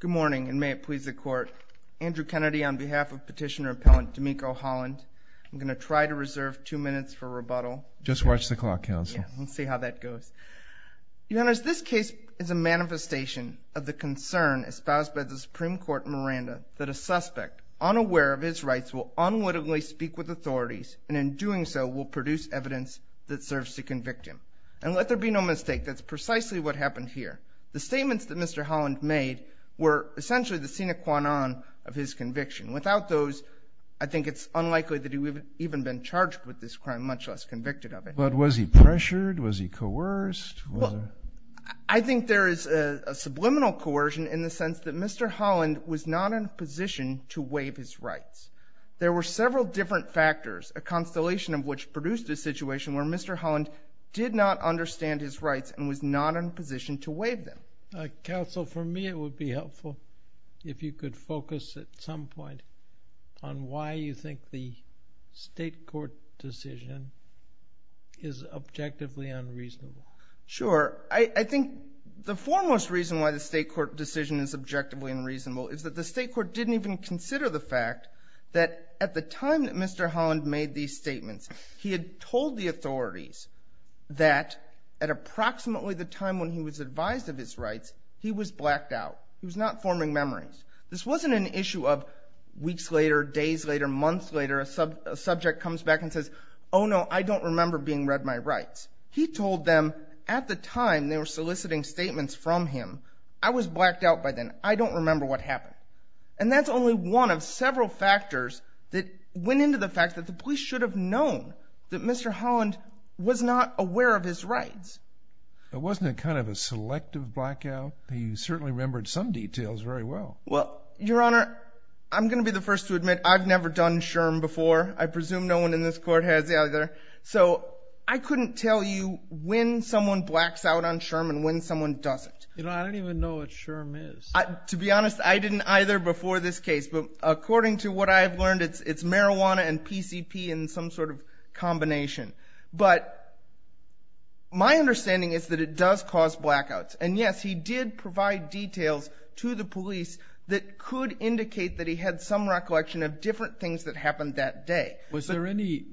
Good morning, and may it please the Court. Andrew Kennedy on behalf of Petitioner Appellant Demeko Holland. I'm going to try to reserve two minutes for rebuttal. Just watch the clock, Counsel. Yeah, we'll see how that goes. Your Honors, this case is a manifestation of the concern espoused by the Supreme Court in Miranda that a suspect, unaware of his rights, will unwittingly speak with authorities and in doing so will produce evidence that serves to convict him. And let there be no mistake, that's precisely what happened here. The statements that Mr. Holland made were essentially the sine qua non of his conviction. Without those, I think it's unlikely that he would have even been charged with this crime, much less convicted of it. But was he pressured? Was he coerced? Well, I think there is a subliminal coercion in the sense that Mr. Holland was not in a position to waive his rights. There were several different factors, a constellation of which produced a situation where Mr. Holland did not understand his rights and was not in a position to waive them. Counsel, for me it would be helpful if you could focus at some point on why you think the State Court decision is objectively unreasonable. Sure. I think the foremost reason why the State Court decision is objectively unreasonable is that the State Court didn't even consider the fact that at the time that Mr. Holland made these statements, he had told the authorities that at approximately the time when he was advised of his rights, he was blacked out. He was not forming memories. This wasn't an issue of weeks later, days later, months later, a subject comes back and says, oh no, I don't remember being read my rights. He told them at the time they were soliciting statements from him, I was blacked out by then. I don't remember what happened. And that's only one of several factors that went into the fact that the police should have known that Mr. Holland was not aware of his rights. But wasn't it kind of a selective blackout? He certainly remembered some details very well. Well, Your Honor, I'm going to be the first to admit I've never done SHRM before. I presume no one in this Court has either. So I couldn't tell you when someone blacks out on SHRM and when someone doesn't. You know, I don't even know what SHRM is. To be honest, I didn't either before this case. But according to what I've learned, it's marijuana and PCP in some sort of combination. But my understanding is that it does cause blackouts. And, yes, he did provide details to the police that could indicate that he had some recollection of different things that happened that day. Was there any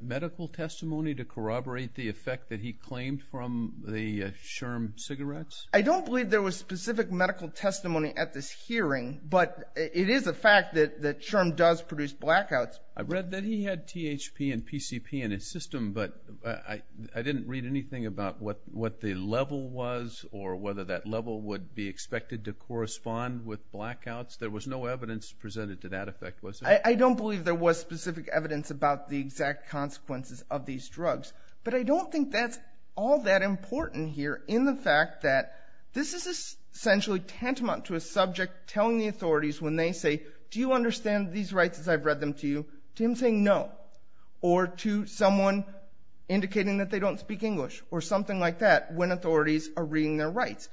medical testimony to corroborate the effect that he claimed from the SHRM cigarettes? I don't believe there was specific medical testimony at this hearing, but it is a fact that SHRM does produce blackouts. I read that he had THP and PCP in his system, but I didn't read anything about what the level was or whether that level would be expected to correspond with blackouts. There was no evidence presented to that effect, was there? I don't believe there was specific evidence about the exact consequences of these drugs. But I don't think that's all that important here in the fact that this is essentially tantamount to a subject telling the authorities when they say, do you understand these rights as I've read them to you, to him saying no, or to someone indicating that they don't speak English or something like that when authorities are reading their rights.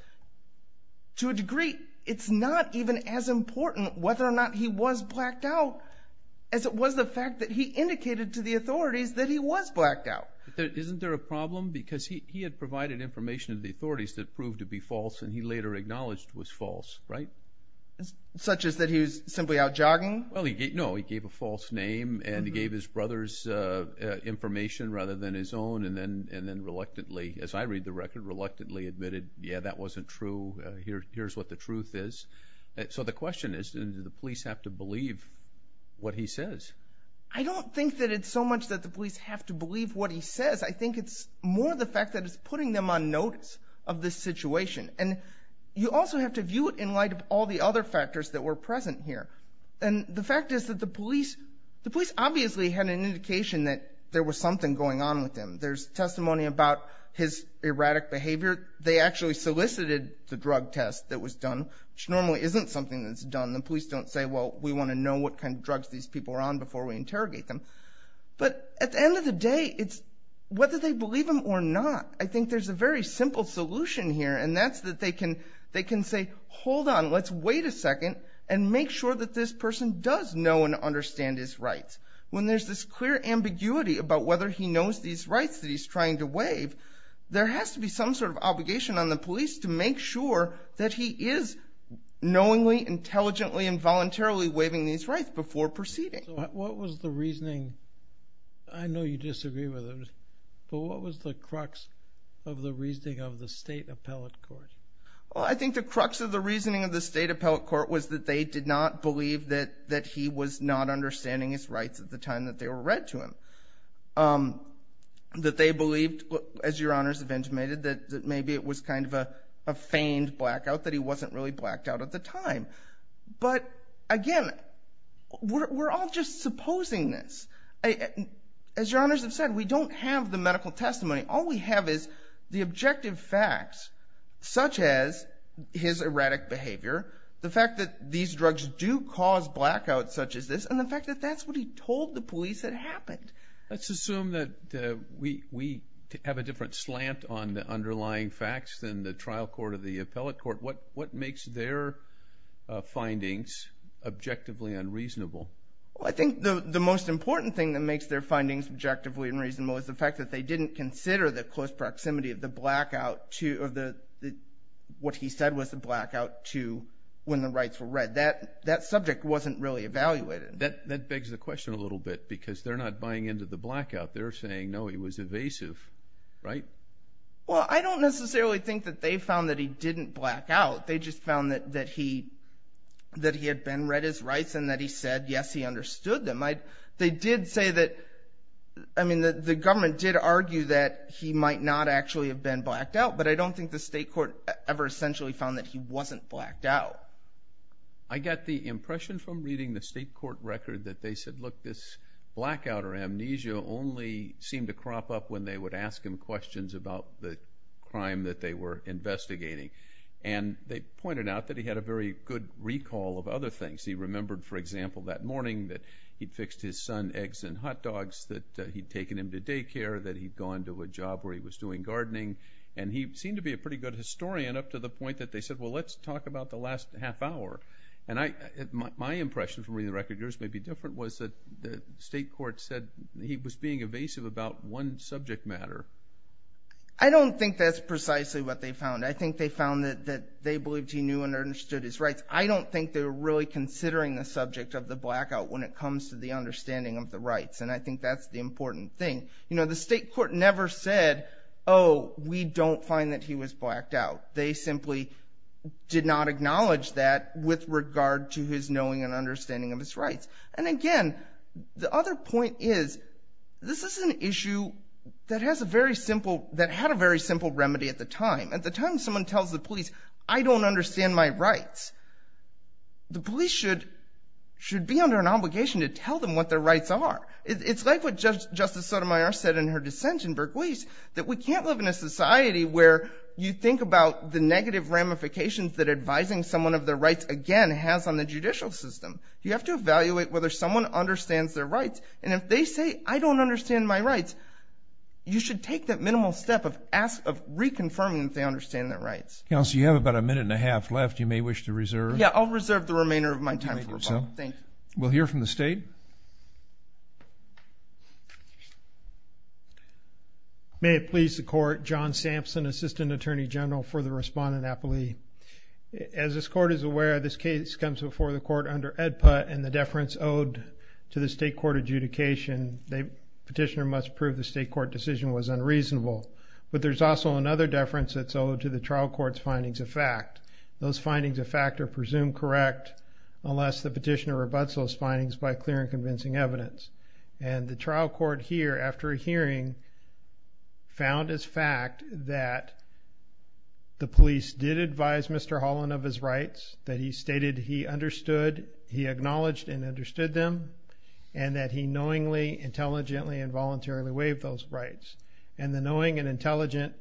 To a degree, it's not even as important whether or not he was blacked out as it was the fact that he indicated to the authorities that he was blacked out. Isn't there a problem? Because he had provided information to the authorities that proved to be false and he later acknowledged was false, right? Such as that he was simply out jogging? No, he gave a false name and gave his brothers information rather than his own and then reluctantly, as I read the record, reluctantly admitted, yeah, that wasn't true. Here's what the truth is. So the question is, do the police have to believe what he says? I don't think that it's so much that the police have to believe what he says. I think it's more the fact that it's putting them on notice of this situation. And you also have to view it in light of all the other factors that were present here. And the fact is that the police obviously had an indication that there was something going on with him. There's testimony about his erratic behavior. They actually solicited the drug test that was done, which normally isn't something that's done. The police don't say, well, we want to know what kind of drugs these people were on before we interrogate them. But at the end of the day, it's whether they believe him or not. I think there's a very simple solution here, and that's that they can say, hold on, let's wait a second and make sure that this person does know and understand his rights. When there's this clear ambiguity about whether he knows these rights that he's trying to waive, there has to be some sort of obligation on the police to make sure that he is knowingly, intelligently, and voluntarily waiving these rights before proceeding. What was the reasoning? I know you disagree with him, but what was the crux of the reasoning of the state appellate court? I think the crux of the reasoning of the state appellate court was that they did not believe that he was not understanding his rights at the time that they were read to him. That they believed, as Your Honors have intimated, that maybe it was kind of a feigned blackout, that he wasn't really blacked out at the time. But again, we're all just supposing this. As Your Honors have said, we don't have the medical testimony. All we have is the objective facts, such as his erratic behavior, the fact that these drugs do cause blackouts such as this, and the fact that that's what he told the police had happened. Let's assume that we have a different slant on the underlying facts than the trial court or the appellate court. What makes their findings objectively unreasonable? I think the most important thing that makes their findings objectively unreasonable is the fact that they didn't consider the close proximity of the blackout to, what he said was the blackout to when the rights were read. That subject wasn't really evaluated. That begs the question a little bit, because they're not buying into the blackout. They're saying, no, he was evasive, right? Well, I don't necessarily think that they found that he didn't black out. They just found that he had been read his rights and that he said, yes, he understood them. They did say that, I mean, the government did argue that he might not actually have been blacked out, but I don't think the state court ever essentially found that he wasn't blacked out. I got the impression from reading the state court record that they said, look, this blackout or amnesia only seemed to crop up when they would ask him questions about the crime that they were investigating, and they pointed out that he had a very good recall of other things. He remembered, for example, that morning that he'd fixed his son eggs and hot dogs, that he'd taken him to daycare, that he'd gone to a job where he was doing gardening, and he seemed to be a pretty good historian up to the point that they said, well, let's talk about the last half hour. And my impression from reading the record, yours may be different, was that the state court said he was being evasive about one subject matter. I don't think that's precisely what they found. I think they found that they believed he knew and understood his rights. I don't think they were really considering the subject of the blackout when it comes to the understanding of the rights, and I think that's the important thing. The state court never said, oh, we don't find that he was blacked out. They simply did not acknowledge that with regard to his knowing and understanding of his rights. And again, the other point is, this is an issue that had a very simple remedy at the time. At the time, someone tells the police, I don't understand my rights. The police should be under an obligation to tell them what their rights are. It's like what Justice Sotomayor said in her dissent in Berkeleys, that we can't live in a society where you think about the negative ramifications that advising someone of their rights, again, has on the judicial system. You have to evaluate whether someone understands their rights, and if they say, I don't understand my rights, you should take that minimal step of reconfirming that they understand their rights. Counsel, you have about a minute and a half left. You may wish to reserve. Yeah, I'll reserve the remainder of my time for rebuttal. Thank you. We'll hear from the state. Thank you. May it please the Court, John Sampson, Assistant Attorney General for the Respondent Appellee. As this Court is aware, this case comes before the Court under EDPA, and the deference owed to the state court adjudication, the petitioner must prove the state court decision was unreasonable. But there's also another deference that's owed to the trial court's findings of fact. Those findings of fact are presumed correct unless the petitioner rebutts those findings by clear and convincing evidence. And the trial court here, after a hearing, found as fact that the police did advise Mr. Holland of his rights, that he stated he understood, he acknowledged and understood them, and that he knowingly, intelligently, and voluntarily waived those rights. And the knowing and intelligent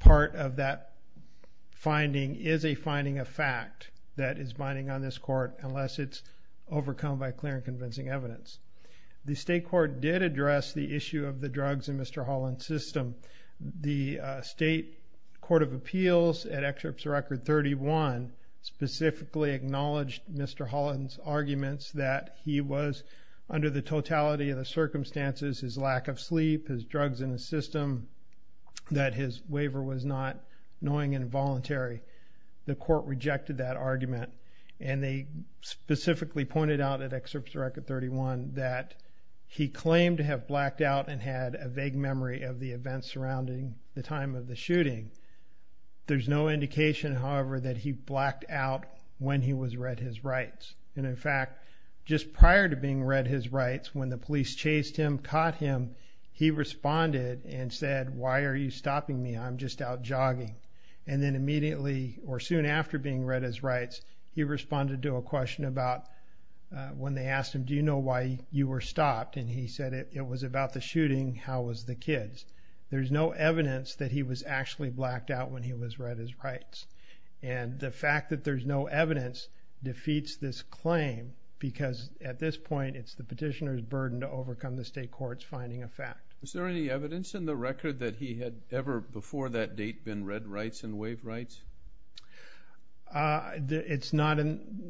part of that finding is a finding of fact that is binding on this Court unless it's overcome by clear and convincing evidence. The state court did address the issue of the drugs in Mr. Holland's system. The state court of appeals, at Excerpts Record 31, specifically acknowledged Mr. Holland's arguments that he was, under the totality of the circumstances, his lack of sleep, his drugs in the system, that his waiver was not knowing and voluntary. The court rejected that argument. And they specifically pointed out at Excerpts Record 31 that he claimed to have blacked out and had a vague memory of the events surrounding the time of the shooting. There's no indication, however, that he blacked out when he was read his rights. And in fact, just prior to being read his rights, when the police chased him, caught him, he responded and said, Why are you stopping me? I'm just out jogging. And then immediately, or soon after being read his rights, he responded to a question about when they asked him, Do you know why you were stopped? And he said, It was about the shooting. How was the kids? There's no evidence that he was actually blacked out when he was read his rights. And the fact that there's no evidence defeats this claim because, at this point, it's the petitioner's burden to overcome the state court's finding of fact. Is there any evidence in the record that he had ever, before that date, been read rights and waived rights? It's not in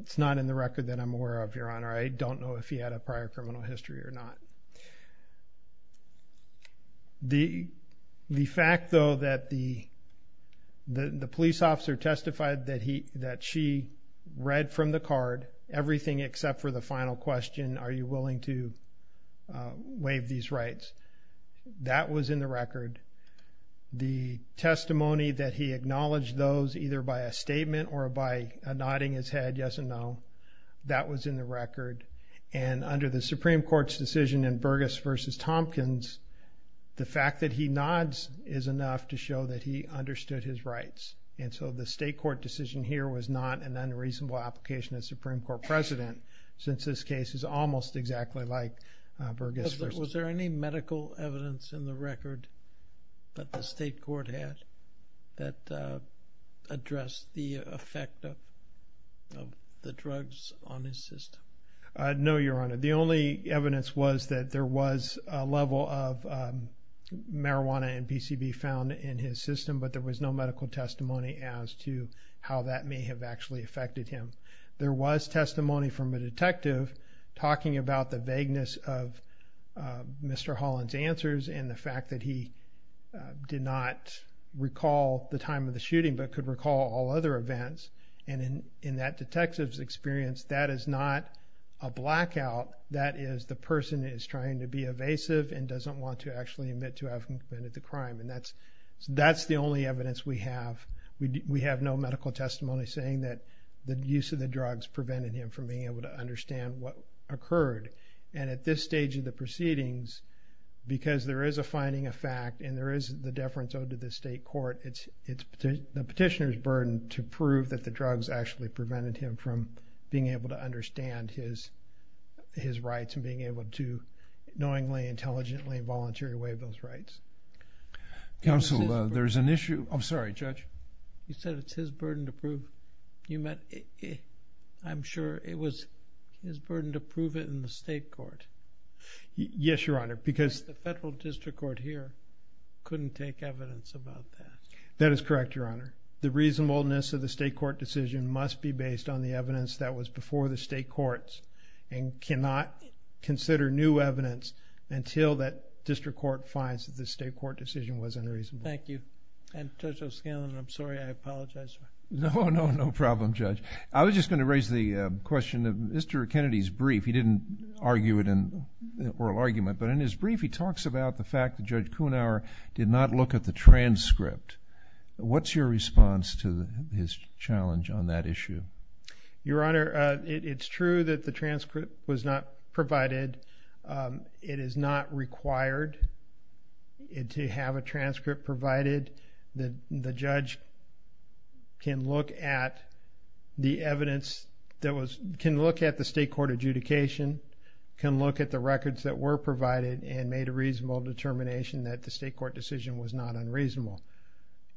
the record that I'm aware of, Your Honor. I don't know if he had a prior criminal history or not. The fact, though, that the police officer testified that she read from the card everything except for the final question, Are you willing to waive these rights? That was in the record. The testimony that he acknowledged those, either by a statement or by nodding his head yes and no, that was in the record. And under the Supreme Court's decision in Burgess v. Tompkins, the fact that he nods is enough to show that he understood his rights. And so the state court decision here was not an unreasonable application of Supreme Court precedent, since this case is almost exactly like Burgess v. Tompkins. Was there any medical evidence in the record that the state court had that addressed the effect of the drugs on his system? No, Your Honor. The only evidence was that there was a level of marijuana and PCB found in his system, but there was no medical testimony as to how that may have actually affected him. There was testimony from a detective talking about the vagueness of Mr. Holland's answers and the fact that he did not recall the time of the shooting but could recall all other events. And in that detective's experience, that is not a blackout. That is the person is trying to be evasive and doesn't want to actually admit to having committed the crime. And that's the only evidence we have. We have no medical testimony saying that the use of the drugs prevented him from being able to understand what occurred. And at this stage of the proceedings, because there is a finding of fact and there is the deference owed to the state court, it's the petitioner's burden to prove that the drugs actually prevented him from being able to understand his rights and being able to knowingly, intelligently, and voluntarily waive those rights. Counsel, there's an issue. I'm sorry, Judge. You said it's his burden to prove. I'm sure it was his burden to prove it in the state court. Yes, Your Honor. Because the federal district court here couldn't take evidence about that. That is correct, Your Honor. The reasonableness of the state court decision must be based on the evidence that was before the state courts and cannot consider new evidence until that district court finds that the state court decision was unreasonable. Thank you. And Judge O'Scanlan, I'm sorry, I apologize. No, no, no problem, Judge. I was just going to raise the question of Mr. Kennedy's brief. He didn't argue it in oral argument, but in his brief he talks about the fact that Judge Kunauer did not look at the transcript. What's your response to his challenge on that issue? Your Honor, it's true that the transcript was not provided. It is not required to have a transcript provided. The judge can look at the evidence that was – can look at the state court adjudication, can look at the records that were provided and made a reasonable determination that the state court decision was not unreasonable.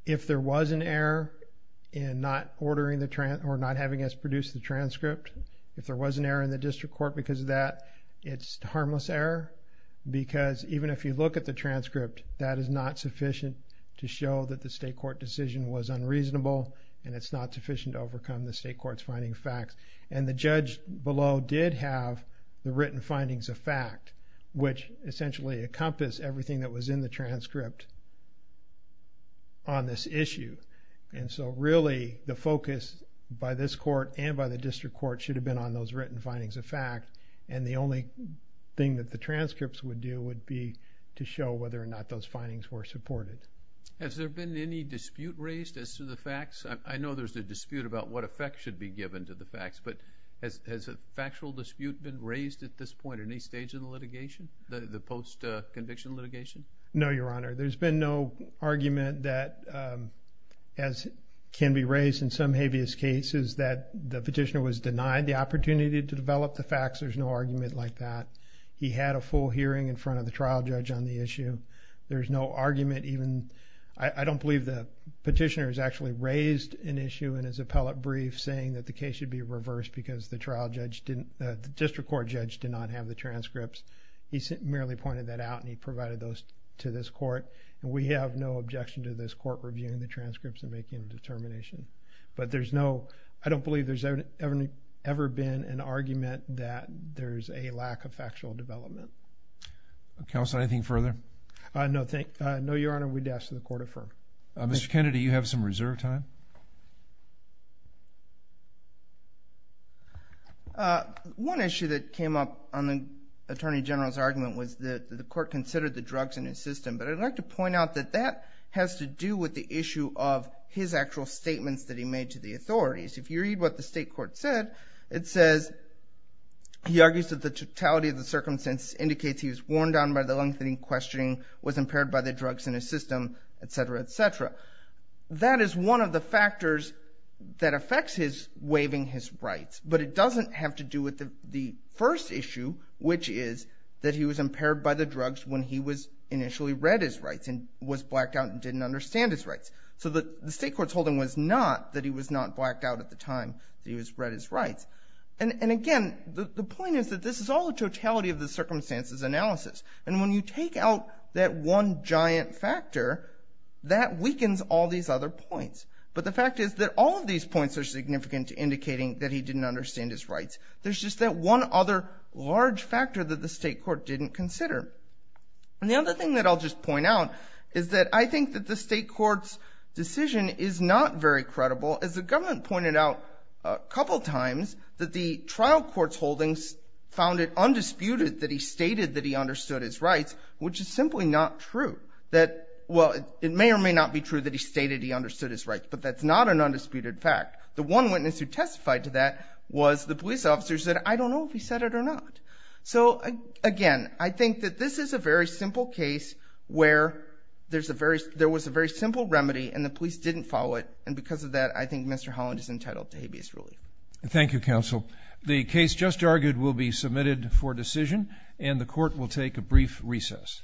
If there was an error in not ordering the – or not having us produce the transcript, if there was an error in the district court because of that, it's harmless error because even if you look at the transcript, that is not sufficient to show that the state court decision was unreasonable and it's not sufficient to overcome the state court's finding of facts. And the judge below did have the written findings of fact, which essentially encompass everything that was in the transcript on this issue. And so really the focus by this court and by the district court should have been on those written findings of fact and the only thing that the transcripts would do would be to show whether or not those findings were supported. Has there been any dispute raised as to the facts? I know there's a dispute about what effect should be given to the facts, but has a factual dispute been raised at this point in any stage in the litigation, the post-conviction litigation? No, Your Honor. There's been no argument that as can be raised in some habeas cases that the facts, there's no argument like that. He had a full hearing in front of the trial judge on the issue. There's no argument even. I don't believe the petitioner has actually raised an issue in his appellate brief saying that the case should be reversed because the district court judge did not have the transcripts. He merely pointed that out and he provided those to this court. And we have no objection to this court reviewing the transcripts and making a determination. But there's no, I don't believe there's ever been an argument that there's a lack of factual development. Counsel, anything further? No, Your Honor. We'd ask that the court affirm. Mr. Kennedy, you have some reserve time. One issue that came up on the Attorney General's argument was that the court considered the drugs in his system. But I'd like to point out that that has to do with the issue of his actual statements that he made to the authorities. If you read what the state court said, it says he argues that the totality of the circumstances indicates he was worn down by the lengthening questioning, was impaired by the drugs in his system, et cetera, et cetera. That is one of the factors that affects his waiving his rights. But it doesn't have to do with the first issue, which is that he was impaired by the drugs when he was initially read his rights and was blacked out and didn't understand his rights. So the state court's holding was not that he was not blacked out at the time that he was read his rights. And again, the point is that this is all a totality of the circumstances analysis. And when you take out that one giant factor, that weakens all these other points. But the fact is that all of these points are significant to indicating that he didn't understand his rights. There's just that one other large factor that the state court didn't consider. And the other thing that I'll just point out is that I think that the state court's decision is not very credible. As the government pointed out a couple times, that the trial court's holdings found it undisputed that he stated that he understood his rights, which is simply not true. Well, it may or may not be true that he stated he understood his rights, but that's not an undisputed fact. The one witness who testified to that was the police officer who said, I don't know if he said it or not. So again, I think that this is a very simple case where there was a very simple remedy and the police didn't follow it. And because of that, I think Mr. Holland is entitled to habeas ruling. Thank you, counsel. The case just argued will be submitted for decision, and the court will take a brief recess.